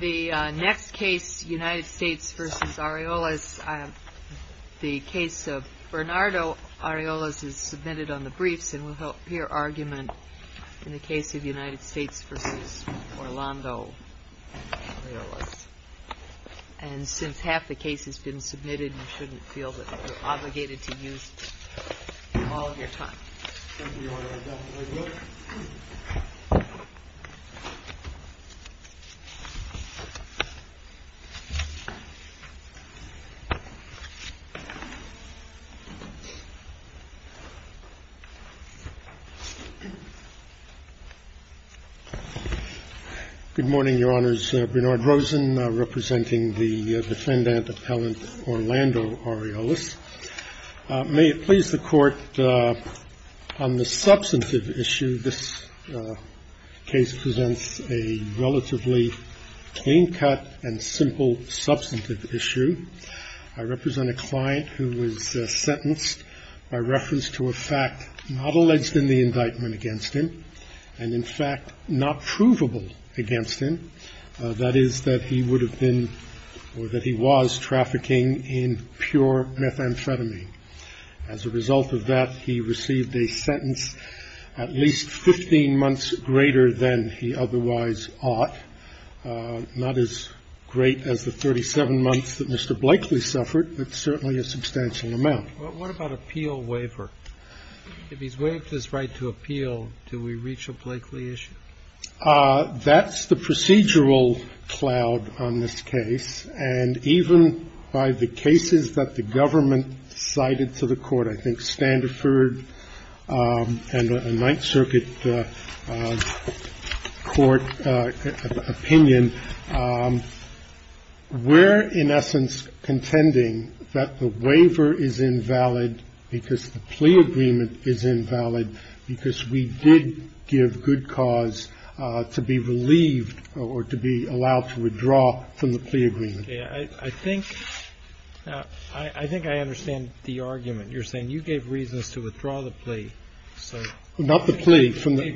The next case, United States v. Aureoles, the case of Bernardo Aureoles is submitted on the briefs, and we'll hear argument in the case of United States v. Orlando Aureoles. And since half the case has been submitted, you shouldn't feel that you're obligated to use all of your time. Thank you, Your Honor. I definitely will. Good morning, Your Honors. Bernard Rosen representing the defendant appellant Orlando Aureoles. May it please the Court, on the substantive issue, this case presents a relatively clean-cut and simple substantive issue. I represent a client who was sentenced by reference to a fact not alleged in the indictment against him and, in fact, not provable against him, that is, that he would have been or that he was trafficking in pure methamphetamine. As a result of that, he received a sentence at least 15 months greater than he otherwise ought, not as great as the 37 months that Mr. Blakely suffered, but certainly a substantial amount. What about appeal waiver? If he's waived his right to appeal, do we reach a Blakely issue? That's the procedural cloud on this case. And even by the cases that the government cited to the court, I think Standifird and a Ninth Circuit court opinion, we're, in essence, contending that the waiver is invalid because the plea agreement is invalid, because we did give good cause to be relieved or to be allowed to withdraw from the plea agreement. I think I understand the argument. You're saying you gave reasons to withdraw the plea. Not the plea, from the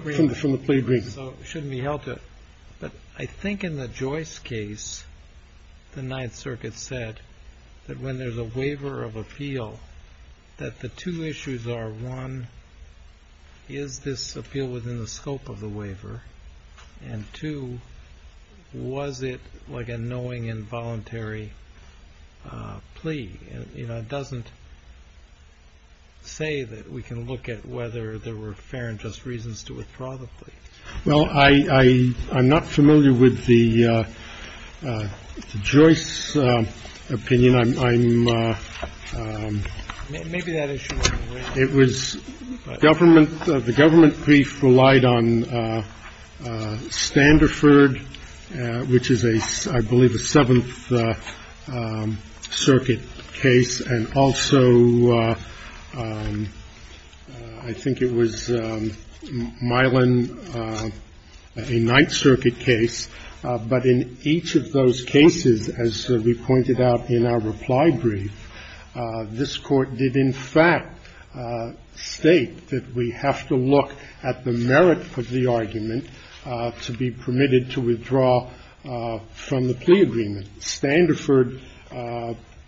plea agreement. So it shouldn't be held to it. But I think in the Joyce case, the Ninth Circuit said that when there's a waiver of appeal, that the two issues are, one, is this appeal within the scope of the waiver? And two, was it like a knowing involuntary plea? It doesn't say that we can look at whether there were fair and just reasons to withdraw the plea. Well, I'm not familiar with the Joyce opinion. I'm — Maybe that issue wasn't raised. It was government. The government brief relied on Standifird, which is a, I believe, a Seventh Circuit case, and also I think it was Milan, a Ninth Circuit case. But in each of those cases, as we pointed out in our reply brief, this Court did in fact state that we have to look at the merit of the argument to be permitted to withdraw from the plea agreement. In Standifird,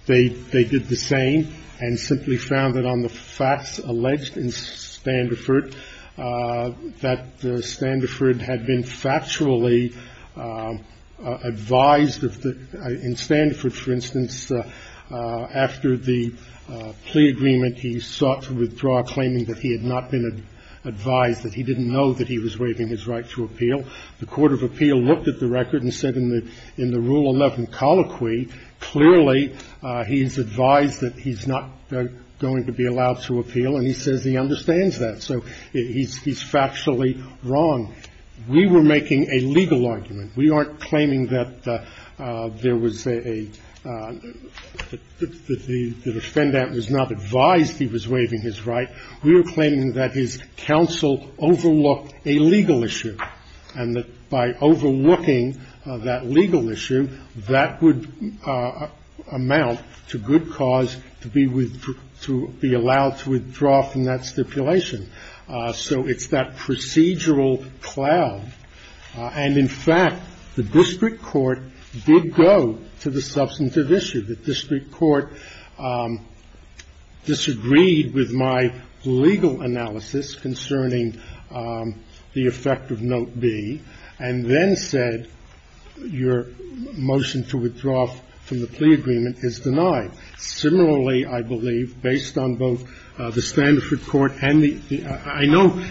they did the same and simply found that on the facts alleged in Standifird that Standifird had been factually advised of the — in Standifird, for instance, after the plea agreement, he sought to withdraw, claiming that he had not been advised, that he didn't know that he was waiving his right to appeal. The Court of Appeal looked at the record and said in the Rule 11 colloquy, clearly he's advised that he's not going to be allowed to appeal, and he says he understands that. So he's factually wrong. We were making a legal argument. We aren't claiming that there was a — that the defendant was not advised he was waiving his right. We were claiming that his counsel overlooked a legal issue, and that by overlooking that legal issue, that would amount to good cause to be — to be allowed to withdraw from that stipulation. So it's that procedural cloud. And in fact, the district court did go to the substantive issue. The district court disagreed with my legal analysis concerning the effect of Note B, and then said your motion to withdraw from the plea agreement is denied. Similarly, I believe, based on both the Standifird court and the — I know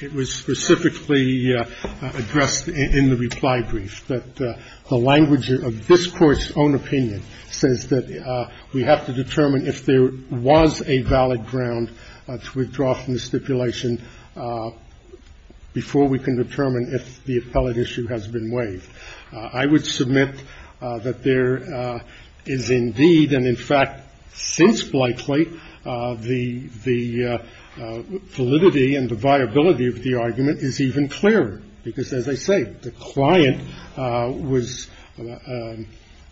it was specifically addressed in the reply brief, that the language of this Court's own opinion says that we have to determine if there was a valid ground to withdraw from the stipulation before we can determine if the appellate issue has been waived. I would submit that there is indeed, and in fact, since Blakely, the validity and the viability of the argument is even clearer, because, as I say, the client was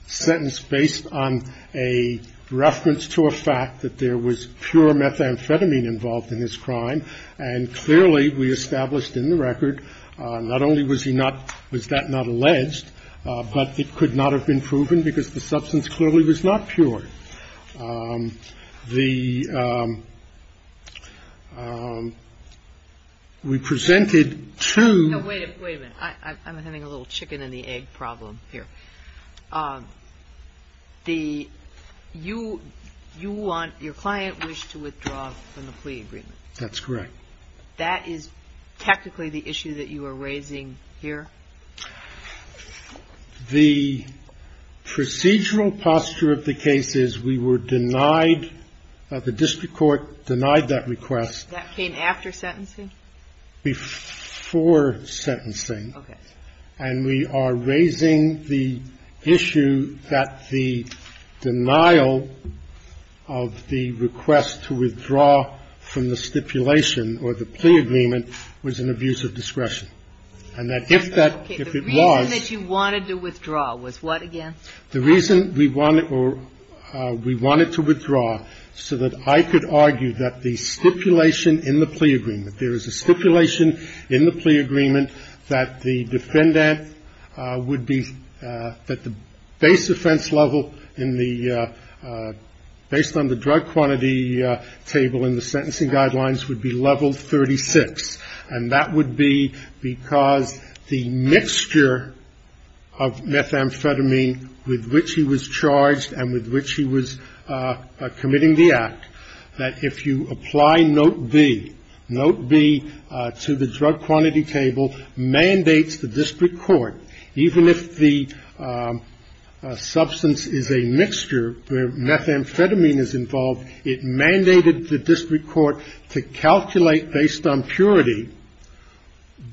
sentenced based on a reference to a fact that there was pure methamphetamine involved in his crime. And clearly, we established in the record, not only was he not — was that not alleged, but it could not have been proven because the substance clearly was not pure. The — we presented to — Wait a minute. I'm having a little chicken-and-the-egg problem here. The — you want — your client wished to withdraw from the plea agreement. That's correct. That is technically the issue that you are raising here? The procedural posture of the case is we were denied — the district court denied that request. That came after sentencing? Before sentencing. Okay. And we are raising the issue that the denial of the request to withdraw from the stipulation or the plea agreement was an abuse of discretion. And that if that — if it was — Okay. The reason that you wanted to withdraw was what again? The reason we wanted — we wanted to withdraw so that I could argue that the stipulation in the plea agreement — there is a stipulation in the plea agreement that the defendant would be — that the base offense level in the — based on the drug quantity table in the sentencing guidelines would be level 36. And that would be because the mixture of methamphetamine with which he was charged and with which he was committing the act, that if you apply Note B, Note B to the drug quantity table mandates the district court, even if the substance is a mixture where methamphetamine is involved, it mandated the district court to calculate based on purity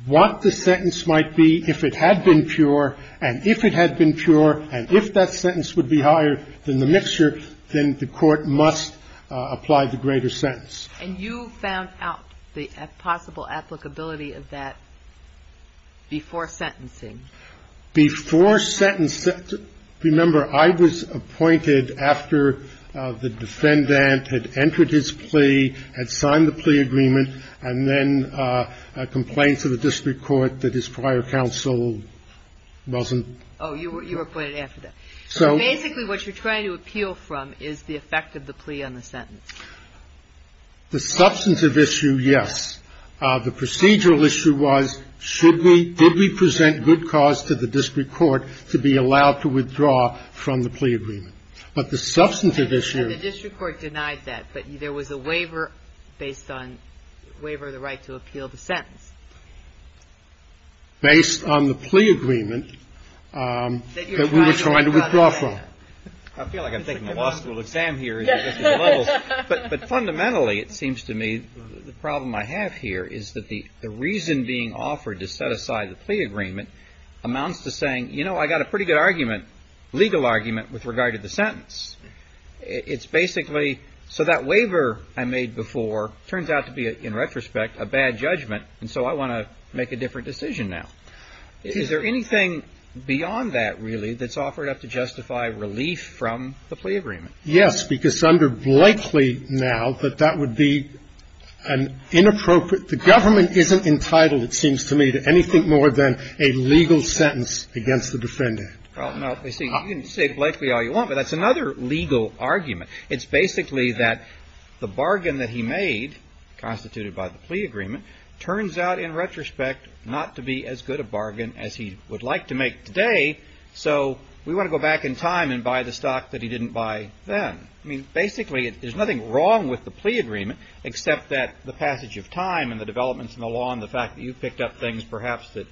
what the sentence might be And if it had been pure, and if it had been pure, and if that sentence would be higher than the mixture, then the court must apply the greater sentence. And you found out the possible applicability of that before sentencing? Before sentencing — remember, I was appointed after the defendant had entered his plea, had signed the plea agreement, and then complained to the district court that his prior counsel wasn't — Oh, you were appointed after that. So — Basically, what you're trying to appeal from is the effect of the plea on the sentence. The substantive issue, yes. The procedural issue was should we — did we present good cause to the district court to be allowed to withdraw from the plea agreement. But the substantive issue — The district court denied that. But there was a waiver based on — waiver of the right to appeal the sentence. Based on the plea agreement that we were trying to withdraw from. I feel like I'm taking a law school exam here. But fundamentally, it seems to me, the problem I have here is that the reason being offered to set aside the plea agreement amounts to saying, you know, I got a pretty good argument, legal argument, with regard to the sentence. It's basically — so that waiver I made before turns out to be, in retrospect, a bad judgment. And so I want to make a different decision now. Is there anything beyond that, really, that's offered up to justify relief from the plea agreement? Yes. Because under Blakely now, that that would be an inappropriate — the government isn't entitled, it seems to me, to anything more than a legal sentence against the defendant. Well, no. You can say to Blakely all you want, but that's another legal argument. It's basically that the bargain that he made, constituted by the plea agreement, turns out, in retrospect, not to be as good a bargain as he would like to make today. So we want to go back in time and buy the stock that he didn't buy then. I mean, basically, there's nothing wrong with the plea agreement, except that the passage of time and the developments in the law and the fact that you picked up things, perhaps, that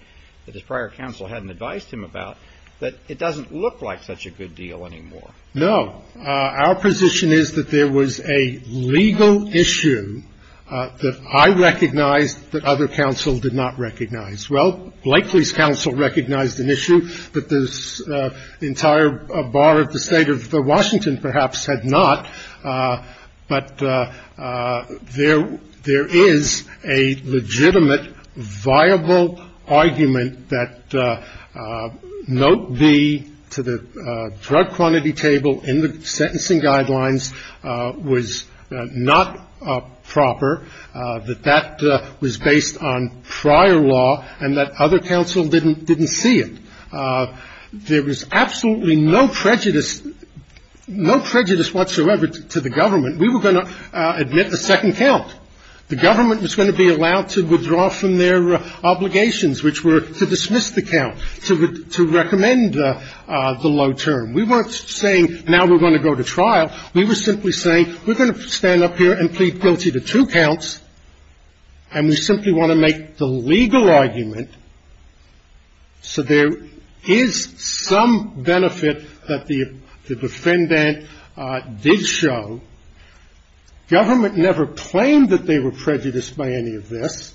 his prior counsel hadn't advised him about, that it doesn't look like such a good deal anymore. No. Our position is that there was a legal issue that I recognized that other counsel did not recognize. Well, Blakely's counsel recognized an issue that this entire bar of the State of Washington, perhaps, had not. But there is a legitimate, viable argument that note B to the drug quantity table in the sentencing guidelines was not proper, that that was based on prior law, and that other counsel didn't see it. There was absolutely no prejudice whatsoever to the government. We were going to admit a second count. The government was going to be allowed to withdraw from their obligations, which were to dismiss the count, to recommend the low term. We weren't saying, now we're going to go to trial. We were simply saying, we're going to stand up here and plead guilty to two counts, and we simply want to make the legal argument so there is some benefit that the defendant did show. Government never claimed that they were prejudiced by any of this.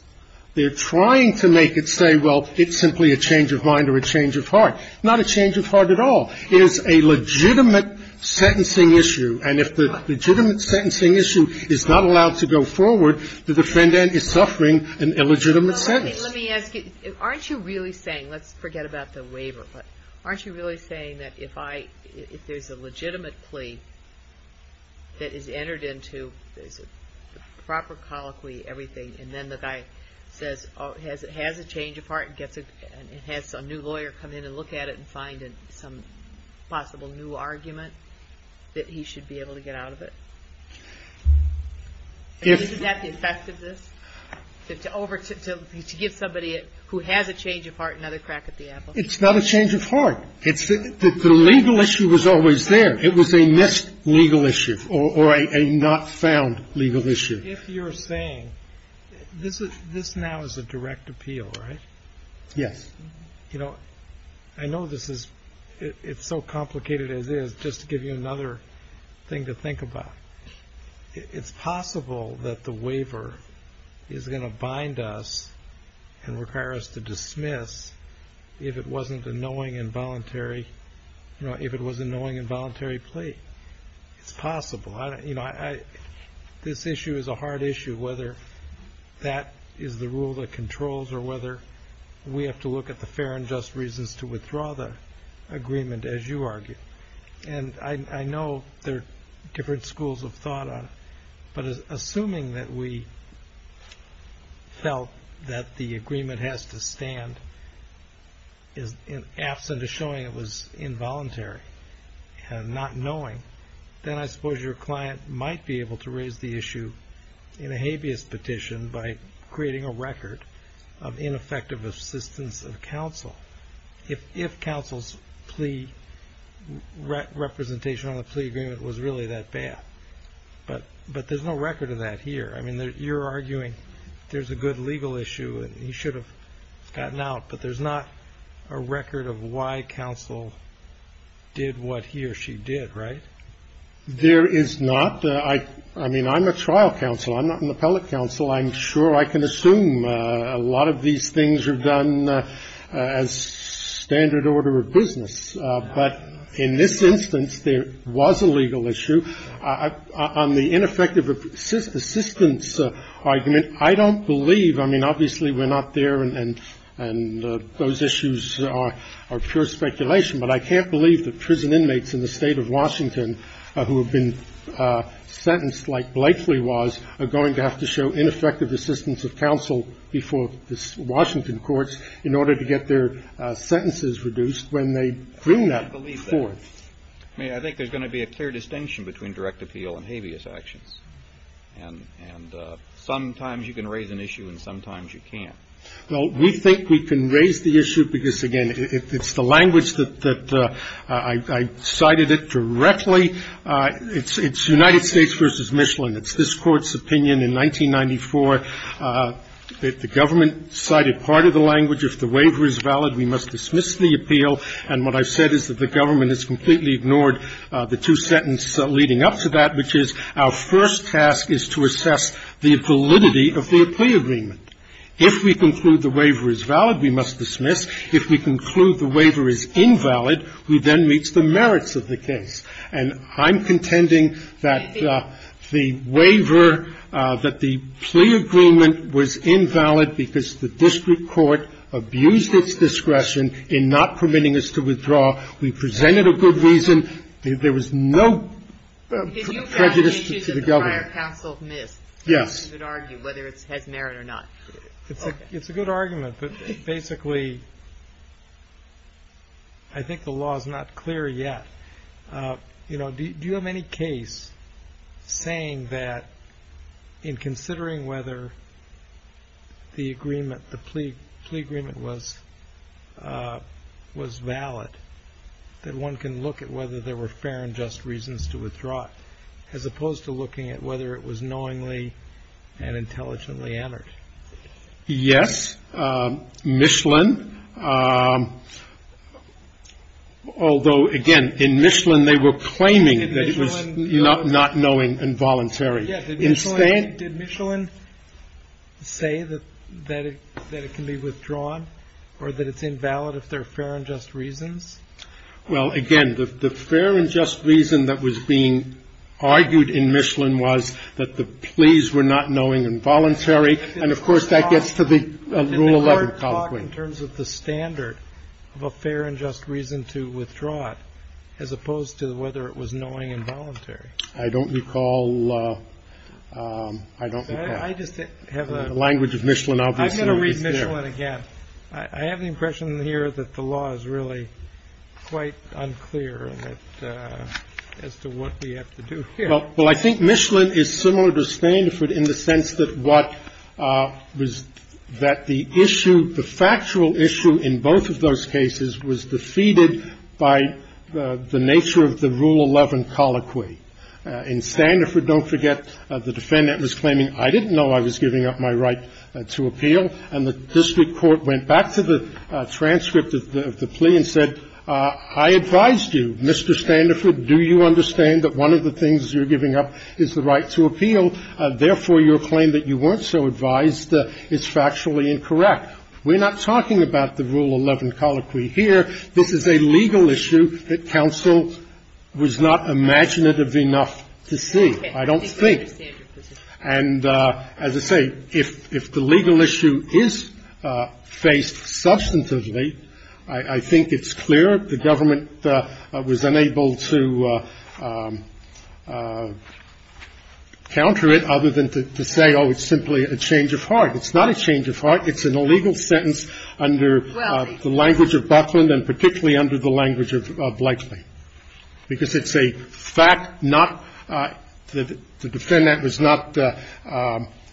They're trying to make it say, well, it's simply a change of mind or a change of heart. Not a change of heart at all. It is a legitimate sentencing issue. And if the legitimate sentencing issue is not allowed to go forward, the defendant is suffering an illegitimate sentence. Let me ask you, aren't you really saying, let's forget about the waiver, but aren't you really saying that if I, if there's a legitimate plea that is entered into, there's a proper colloquy, everything, and then the guy says, has a change of heart and has a new lawyer come in and look at it and find some possible new argument that he should be able to get out of it? Isn't that the effect of this, to give somebody who has a change of heart another crack at the apple? It's not a change of heart. The legal issue was always there. It was a missed legal issue or a not found legal issue. If you're saying, this now is a direct appeal, right? Yes. You know, I know this is, it's so complicated as is, just to give you another thing to think about. It's possible that the waiver is going to bind us and require us to dismiss if it wasn't a knowing and voluntary, you know, if it was a knowing and voluntary plea. It's possible. You know, this issue is a hard issue, whether that is the rule that controls or whether we have to look at the fair and just reasons to withdraw the agreement, as you argue. And I know there are different schools of thought on it, but assuming that we felt that the agreement has to stand in absent of showing it was involuntary and not knowing, then I suppose your client might be able to raise the issue in a habeas petition by creating a record of ineffective assistance of counsel. If counsel's representation on the plea agreement was really that bad. But there's no record of that here. I mean, you're arguing there's a good legal issue and he should have gotten out, but there's not a record of why counsel did what he or she did, right? There is not. I mean, I'm a trial counsel. I'm not an appellate counsel. I'm sure I can assume a lot of these things are done as standard order of business. But in this instance, there was a legal issue on the ineffective assistance argument. I don't believe I mean, obviously, we're not there. And those issues are pure speculation. But I can't believe that prison inmates in the state of Washington who have been sentenced, like Blakely was, are going to have to show ineffective assistance of counsel before Washington courts in order to get their sentences reduced when they bring that forth. I mean, I think there's going to be a clear distinction between direct appeal and habeas actions. And sometimes you can raise an issue and sometimes you can't. Well, we think we can raise the issue because, again, it's the language that I cited it directly. It's United States v. Michelin. It's this Court's opinion in 1994. The government cited part of the language, if the waiver is valid, we must dismiss the appeal. And what I've said is that the government has completely ignored the two sentences leading up to that, which is our first task is to assess the validity of the plea agreement. If we conclude the waiver is valid, we must dismiss. If we conclude the waiver is invalid, we then reach the merits of the case. And I'm contending that the waiver, that the plea agreement was invalid because the district court abused its discretion in not permitting us to withdraw. We presented a good reason. There was no prejudice to the government. Yes. It's a good argument, but basically, I think the law is not clear yet. Do you have any case saying that in considering whether the agreement, the plea agreement was valid, that one can look at whether there were fair and just reasons to withdraw as opposed to looking at whether it was knowingly and intelligently entered? Yes. We're arguing that Michelin, although again, in Michelin they were claiming that it was not knowing and voluntary. Did Michelin say that it can be withdrawn or that it's invalid if there are fair and just reasons? Well, again, the fair and just reason that was being argued in Michelin was that the pleas were not knowing and voluntary. And, of course, that gets to the Rule 11. In terms of the standard of a fair and just reason to withdraw it, as opposed to whether it was knowing and voluntary. I don't recall. I don't recall. The language of Michelin obviously is there. I'm going to read Michelin again. I have the impression here that the law is really quite unclear as to what we have to do here. Well, I think Michelin is similar to Standifird in the sense that what was the issue, the factual issue in both of those cases was defeated by the nature of the Rule 11 colloquy. In Standifird, don't forget, the defendant was claiming I didn't know I was giving up my right to appeal. And the district court went back to the transcript of the plea and said, I advised you, Mr. Standifird. Do you understand that one of the things you're giving up is the right to appeal? Therefore, your claim that you weren't so advised is factually incorrect. We're not talking about the Rule 11 colloquy here. This is a legal issue that counsel was not imaginative enough to see. I don't think. And, as I say, if the legal issue is faced substantively, I think it's clear the government was unable to counter it other than to say, oh, it's simply a change of heart. It's not a change of heart. It's an illegal sentence under the language of Buckland and particularly under the language of Blightly, because it's a fact not the defendant was not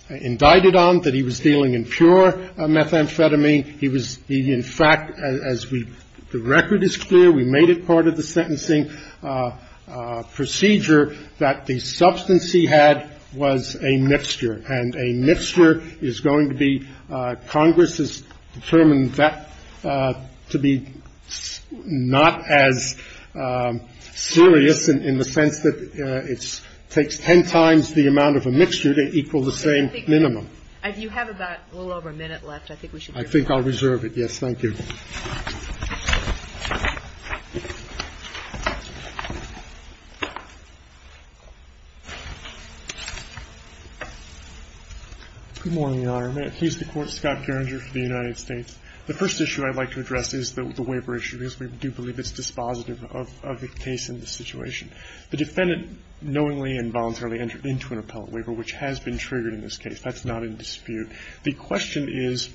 indicted on, that he was dealing in pure methamphetamine. He was, in fact, as we the record is clear, we made it part of the sentencing procedure that the substance he had was a mixture. And a mixture is going to be, Congress has determined that to be not as serious in the sense that it takes ten times the amount of a mixture to equal the same minimum. And if you have about a little over a minute left, I think we should get going. I think I'll reserve it. Yes, thank you. Good morning, Your Honor. May it please the Court. Scott Gerringer for the United States. The first issue I'd like to address is the waiver issue, because we do believe it's dispositive of the case in this situation. The defendant knowingly and voluntarily entered into an appellate waiver, which has been triggered in this case. That's not in dispute. The question is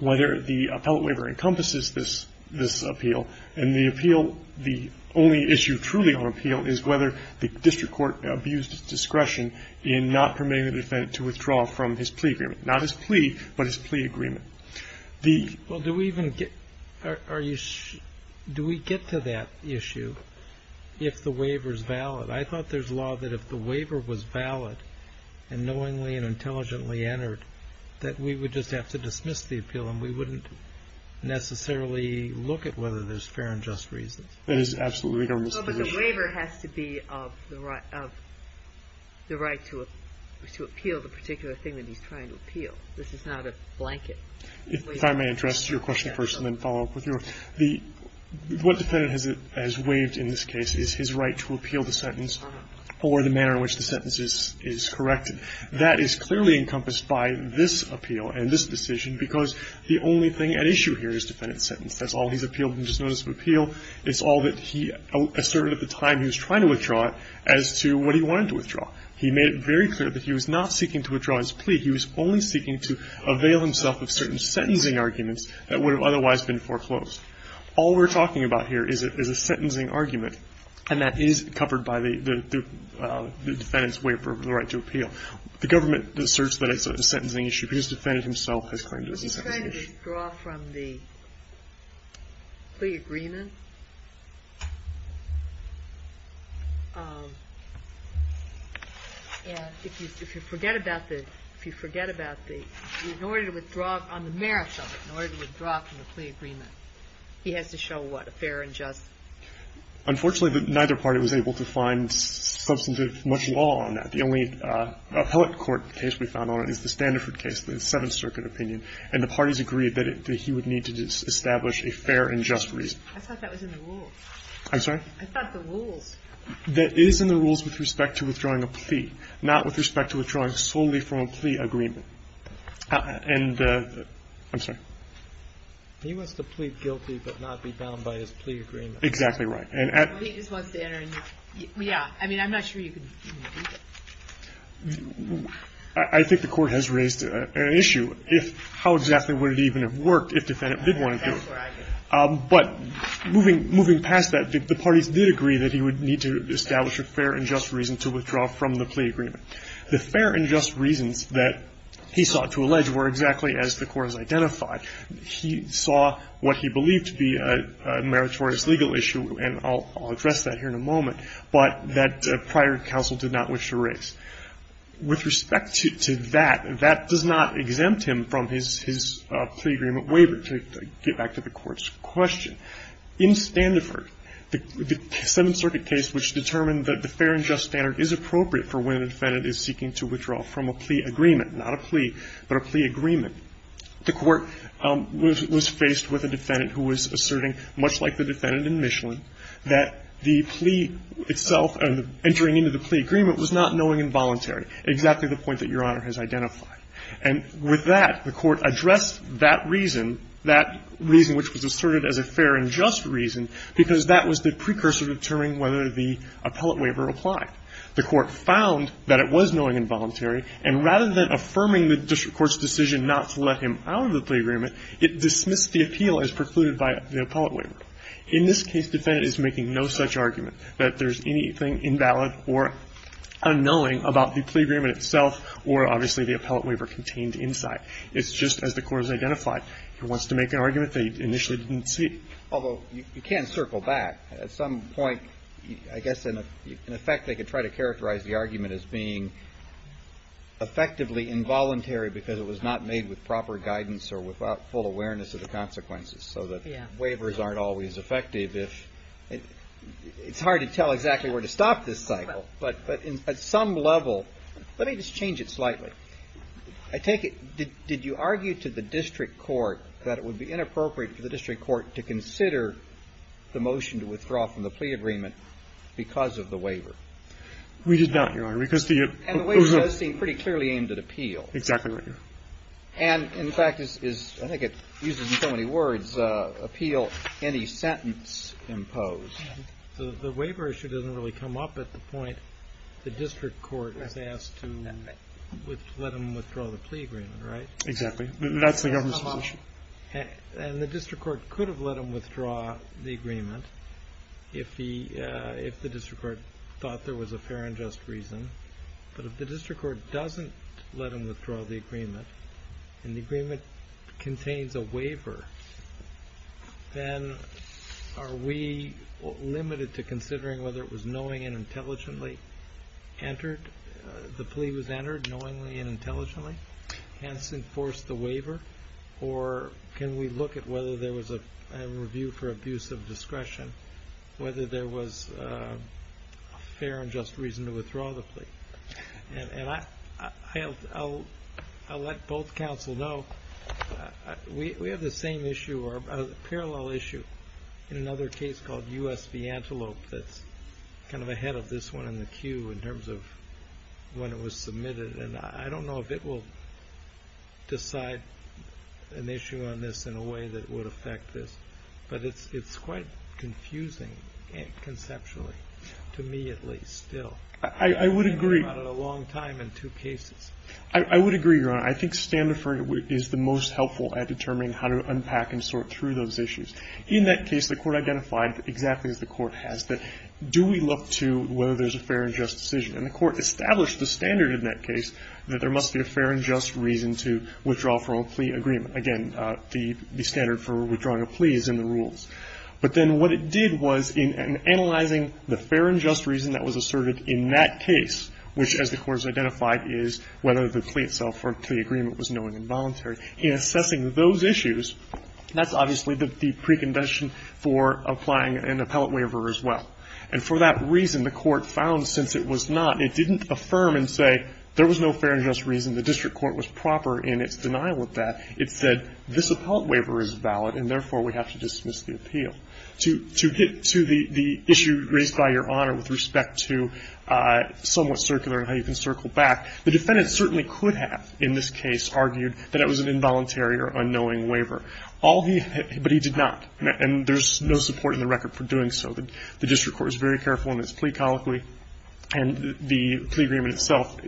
whether the appellate waiver encompasses this appeal. And the appeal, the only issue truly on appeal is whether the district court abused discretion in not permitting the defendant to withdraw from his plea agreement, not his plea, but his plea agreement. The ---- Well, do we even get, are you, do we get to that issue if the waiver is valid? I thought there's law that if the waiver was valid and knowingly and intelligently entered, that we would just have to dismiss the appeal and we wouldn't necessarily look at whether there's fair and just reasons. That is absolutely the government's position. Well, but the waiver has to be of the right to appeal the particular thing that he's trying to appeal. This is not a blanket waiver. If I may address your question first and then follow up with yours. The, what defendant has waived in this case is his right to appeal the sentence or the manner in which the sentence is corrected. That is clearly encompassed by this appeal and this decision because the only thing at issue here is defendant's sentence. That's all he's appealed in this notice of appeal. It's all that he asserted at the time he was trying to withdraw it as to what he wanted to withdraw. He made it very clear that he was not seeking to withdraw his plea. He was only seeking to avail himself of certain sentencing arguments that would have otherwise been foreclosed. All we're talking about here is a sentencing argument, and that is covered by the defendant's waiver of the right to appeal. The government asserts that it's a sentencing issue because the defendant himself has claimed it's a sentencing issue. from the plea agreement. And if you forget about the, if you forget about the, in order to withdraw, on the merits of it, in order to withdraw from the plea agreement, he has to show what? A fair and just. Unfortunately, neither party was able to find substantive much law on that. The only appellate court case we found on it is the Standiford case, the Seventh Amendment case, where the parties agreed that he would need to establish a fair and just reason. I thought that was in the rules. I'm sorry? I thought the rules. That is in the rules with respect to withdrawing a plea, not with respect to withdrawing solely from a plea agreement. And, I'm sorry? He wants to plead guilty but not be bound by his plea agreement. Exactly right. Well, he just wants to enter in. Yeah. I mean, I'm not sure you can even do that. I think the Court has raised an issue if how exactly would it even have worked if defendant did want to do it. But moving past that, the parties did agree that he would need to establish a fair and just reason to withdraw from the plea agreement. The fair and just reasons that he sought to allege were exactly as the Court has identified. He saw what he believed to be a meritorious legal issue, and I'll address that here in a moment, but that prior counsel did not wish to raise. With respect to that, that does not exempt him from his plea agreement waiver, to get back to the Court's question. In Standiford, the Seventh Circuit case which determined that the fair and just standard is appropriate for when a defendant is seeking to withdraw from a plea agreement, not a plea, but a plea agreement, the Court was faced with a defendant who was asserting, much like the defendant in Michelin, that the plea itself and entering into the plea agreement was not knowing and voluntary, exactly the point that Your Honor has identified. And with that, the Court addressed that reason, that reason which was asserted as a fair and just reason, because that was the precursor to determining whether the appellate waiver applied. The Court found that it was knowing and voluntary, and rather than affirming the district court's decision not to let him out of the plea agreement, it dismissed the appeal as precluded by the appellate waiver. In this case, the defendant is making no such argument that there's anything invalid or unknowing about the plea agreement itself or, obviously, the appellate waiver contained inside. It's just as the Court has identified. He wants to make an argument that he initially didn't see. Although, you can circle back. At some point, I guess, in effect, they could try to characterize the argument as being effectively involuntary because it was not made with proper guidance or without full awareness of the consequences. So the waivers aren't always effective. It's hard to tell exactly where to stop this cycle. But at some level, let me just change it slightly. I take it, did you argue to the district court that it would be inappropriate for the district court to consider the motion to withdraw from the plea agreement because of the waiver? We did not, Your Honor. And the waiver does seem pretty clearly aimed at appeal. Exactly right. And, in fact, I think it uses so many words, appeal any sentence imposed. So the waiver issue doesn't really come up at the point the district court is asked to let him withdraw the plea agreement, right? Exactly. That's the government's position. And the district court could have let him withdraw the agreement if the district court thought there was a fair and just reason. But if the district court doesn't let him withdraw the agreement and the agreement contains a waiver, then are we limited to considering whether it was knowing and intelligently entered, the plea was entered knowingly and intelligently, hence enforced the waiver? Or can we look at whether there was a review for abuse of discretion, whether there was a fair and just reason to withdraw the plea? And I'll let both counsel know we have the same issue, or a parallel issue in another case called U.S. V. Antelope that's kind of ahead of this one in the queue in terms of when it was submitted. And I don't know if it will decide an issue on this in a way that would affect this. But it's quite confusing, conceptually, to me at least still. I would agree. It's been a long time in two cases. I would agree, Your Honor. I think standoffering is the most helpful at determining how to unpack and sort through those issues. In that case, the court identified, exactly as the court has, that do we look to whether there's a fair and just decision? And the court established the standard in that case that there must be a fair and just reason to withdraw from a plea agreement. Again, the standard for withdrawing a plea is in the rules. But then what it did was in analyzing the fair and just reason that was asserted in that case, which, as the court has identified, is whether the plea itself or plea agreement was knowing and voluntary, in assessing those issues, that's obviously the precondition for applying an appellate waiver as well. And for that reason, the court found since it was not, it didn't affirm and say there was no fair and just reason, the district court was proper in its denial of that. It said this appellate waiver is valid and, therefore, we have to dismiss the appeal. To get to the issue raised by Your Honor with respect to somewhat circular and how you can circle back, the defendant certainly could have in this case argued that it was an involuntary or unknowing waiver. All he had, but he did not. And there's no support in the record for doing so. The district court is very careful in its plea colloquy. And the plea agreement itself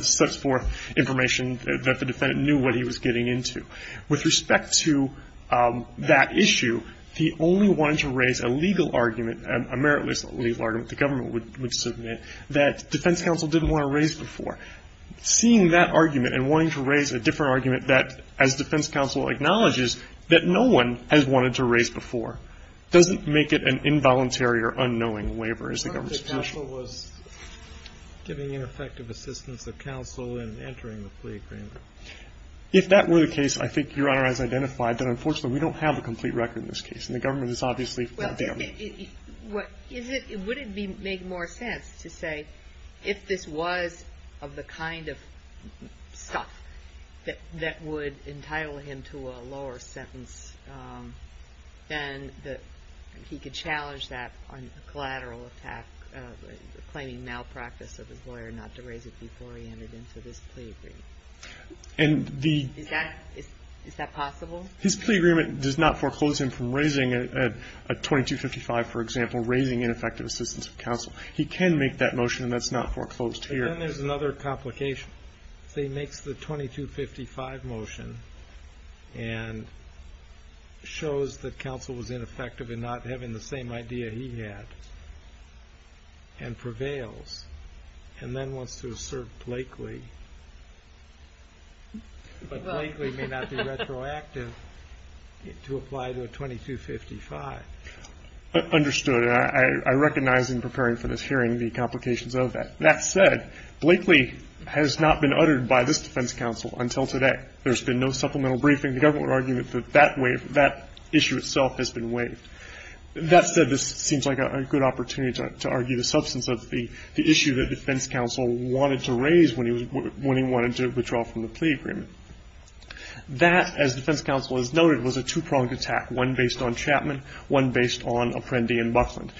sets forth information that the defendant knew what he was getting into. With respect to that issue, he only wanted to raise a legal argument, a meritless legal argument the government would submit, that defense counsel didn't want to raise before. Seeing that argument and wanting to raise a different argument that, as defense counsel acknowledges, that no one has wanted to raise before, doesn't make it an involuntary or unknowing waiver as a government solution. Counsel was giving ineffective assistance of counsel in entering the plea agreement. If that were the case, I think Your Honor has identified that, unfortunately, we don't have a complete record in this case. And the government is obviously not there. Would it make more sense to say if this was of the kind of stuff that would entitle him to a lower sentence, then that he could challenge that on a collateral attack, claiming malpractice of his lawyer not to raise it before he entered into this plea agreement? Is that possible? His plea agreement does not foreclose him from raising a 2255, for example, raising ineffective assistance of counsel. He can make that motion, and that's not foreclosed here. Then there's another complication. He makes the 2255 motion and shows that counsel was ineffective in not having the same idea he had, and prevails, and then wants to assert Blakely. But Blakely may not be retroactive to apply to a 2255. Understood. I recognize in preparing for this hearing the complications of that. That said, Blakely has not been uttered by this defense counsel until today. There's been no supplemental briefing. The government would argue that that issue itself has been waived. That said, this seems like a good opportunity to argue the substance of the issue that defense counsel wanted to raise when he wanted to withdraw from the plea agreement. That, as defense counsel has noted, was a two-pronged attack, one based on Chapman, one based on Apprendi and Buckland.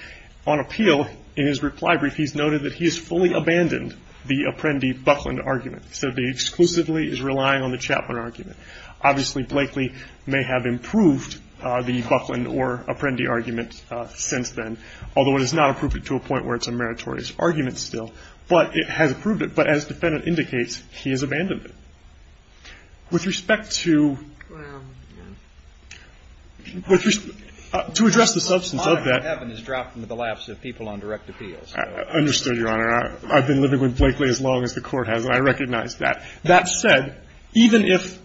On appeal, in his reply brief, he's noted that he has fully abandoned the Apprendi-Buckland argument. He said that he exclusively is relying on the Chapman argument. Obviously, Blakely may have improved the Buckland or Apprendi argument since then, although it has not improved it to a point where it's a meritorious argument still. But it has improved it. But as the defendant indicates, he has abandoned it. With respect to address the substance of that. The defendant has dropped into the laps of people on direct appeals. Understood, Your Honor. I've been living with Blakely as long as the Court has, and I recognize that. That said, even if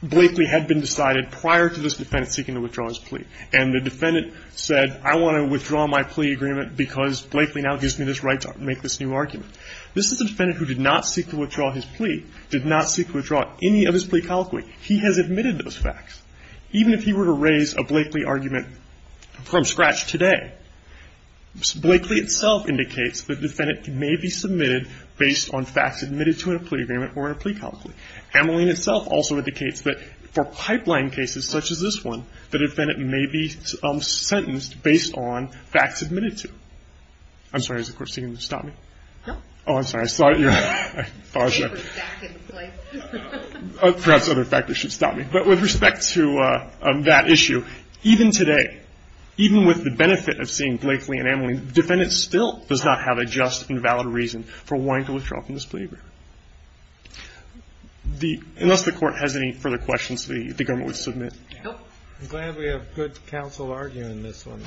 Blakely had been decided prior to this defendant seeking to withdraw his plea, and the defendant said I want to withdraw my plea agreement because Blakely now gives me this right to make this new argument, this is a defendant who did not seek to withdraw his plea, did not seek to withdraw any of his plea He has admitted those facts. Even if he were to raise a Blakely argument from scratch today, Blakely itself indicates the defendant may be submitted based on facts admitted to a plea agreement or a plea complaint. Ameline itself also indicates that for pipeline cases such as this one, the defendant may be sentenced based on facts admitted to. I'm sorry, is the court seeing me? Stop me? No. Oh, I'm sorry. I saw it. Perhaps other factors should stop me. But with respect to that issue, even today, even with the benefit of seeing Blakely and Ameline, the defendant still does not have a just and valid reason for wanting to withdraw from this plea agreement. Unless the Court has any further questions, the government would submit. I'm glad we have good counsel arguing this one.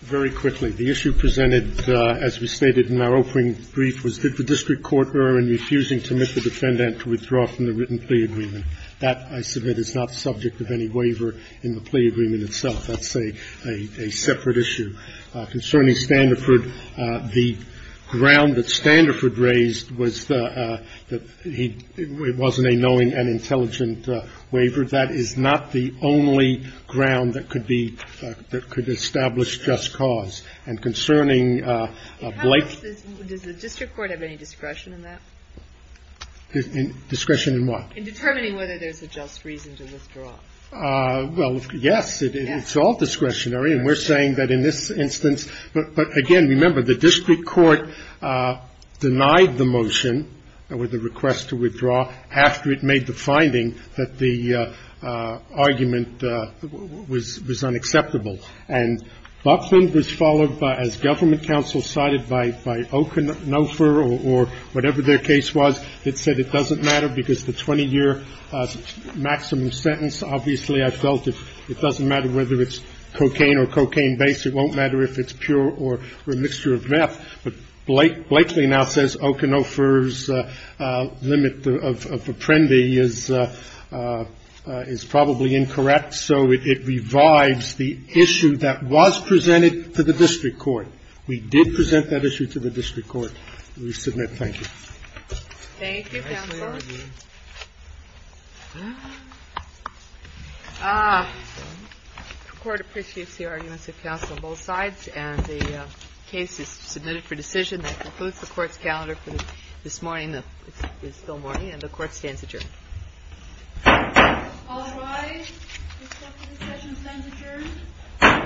Very quickly. The issue presented, as we stated in our opening brief, was did the district court err in refusing to admit the defendant to withdraw from the written plea agreement. That, I submit, is not subject of any waiver in the plea agreement itself. That's a separate issue. Concerning Standifird, the ground that Standifird raised was that he wasn't a knowing and intelligent waiver. That is not the only ground that could be – that could establish just cause. And concerning Blakely. Does the district court have any discretion in that? Discretion in what? In determining whether there's a just reason to withdraw. Well, yes. It's all discretionary. And we're saying that in this instance. But, again, remember, the district court denied the motion with the request to withdraw after it made the finding that the argument was unacceptable. And Buckland was followed by, as government counsel cited, by Okanofer or whatever their case was. It said it doesn't matter because the 20-year maximum sentence, obviously, I felt it doesn't matter whether it's cocaine or cocaine-based. It won't matter if it's pure or a mixture of meth. But Blakely now says Okanofer's limit of apprendi is probably incorrect. So it revives the issue that was presented to the district court. We did present that issue to the district court. We submit thank you. Thank you, counsel. The Court appreciates the arguments of counsel on both sides. And the case is submitted for decision. That concludes the Court's calendar for this morning. It's still morning. And the Court stands adjourned. All rise. The Court for this session stands adjourned. The Court is adjourned. The Court is adjourned.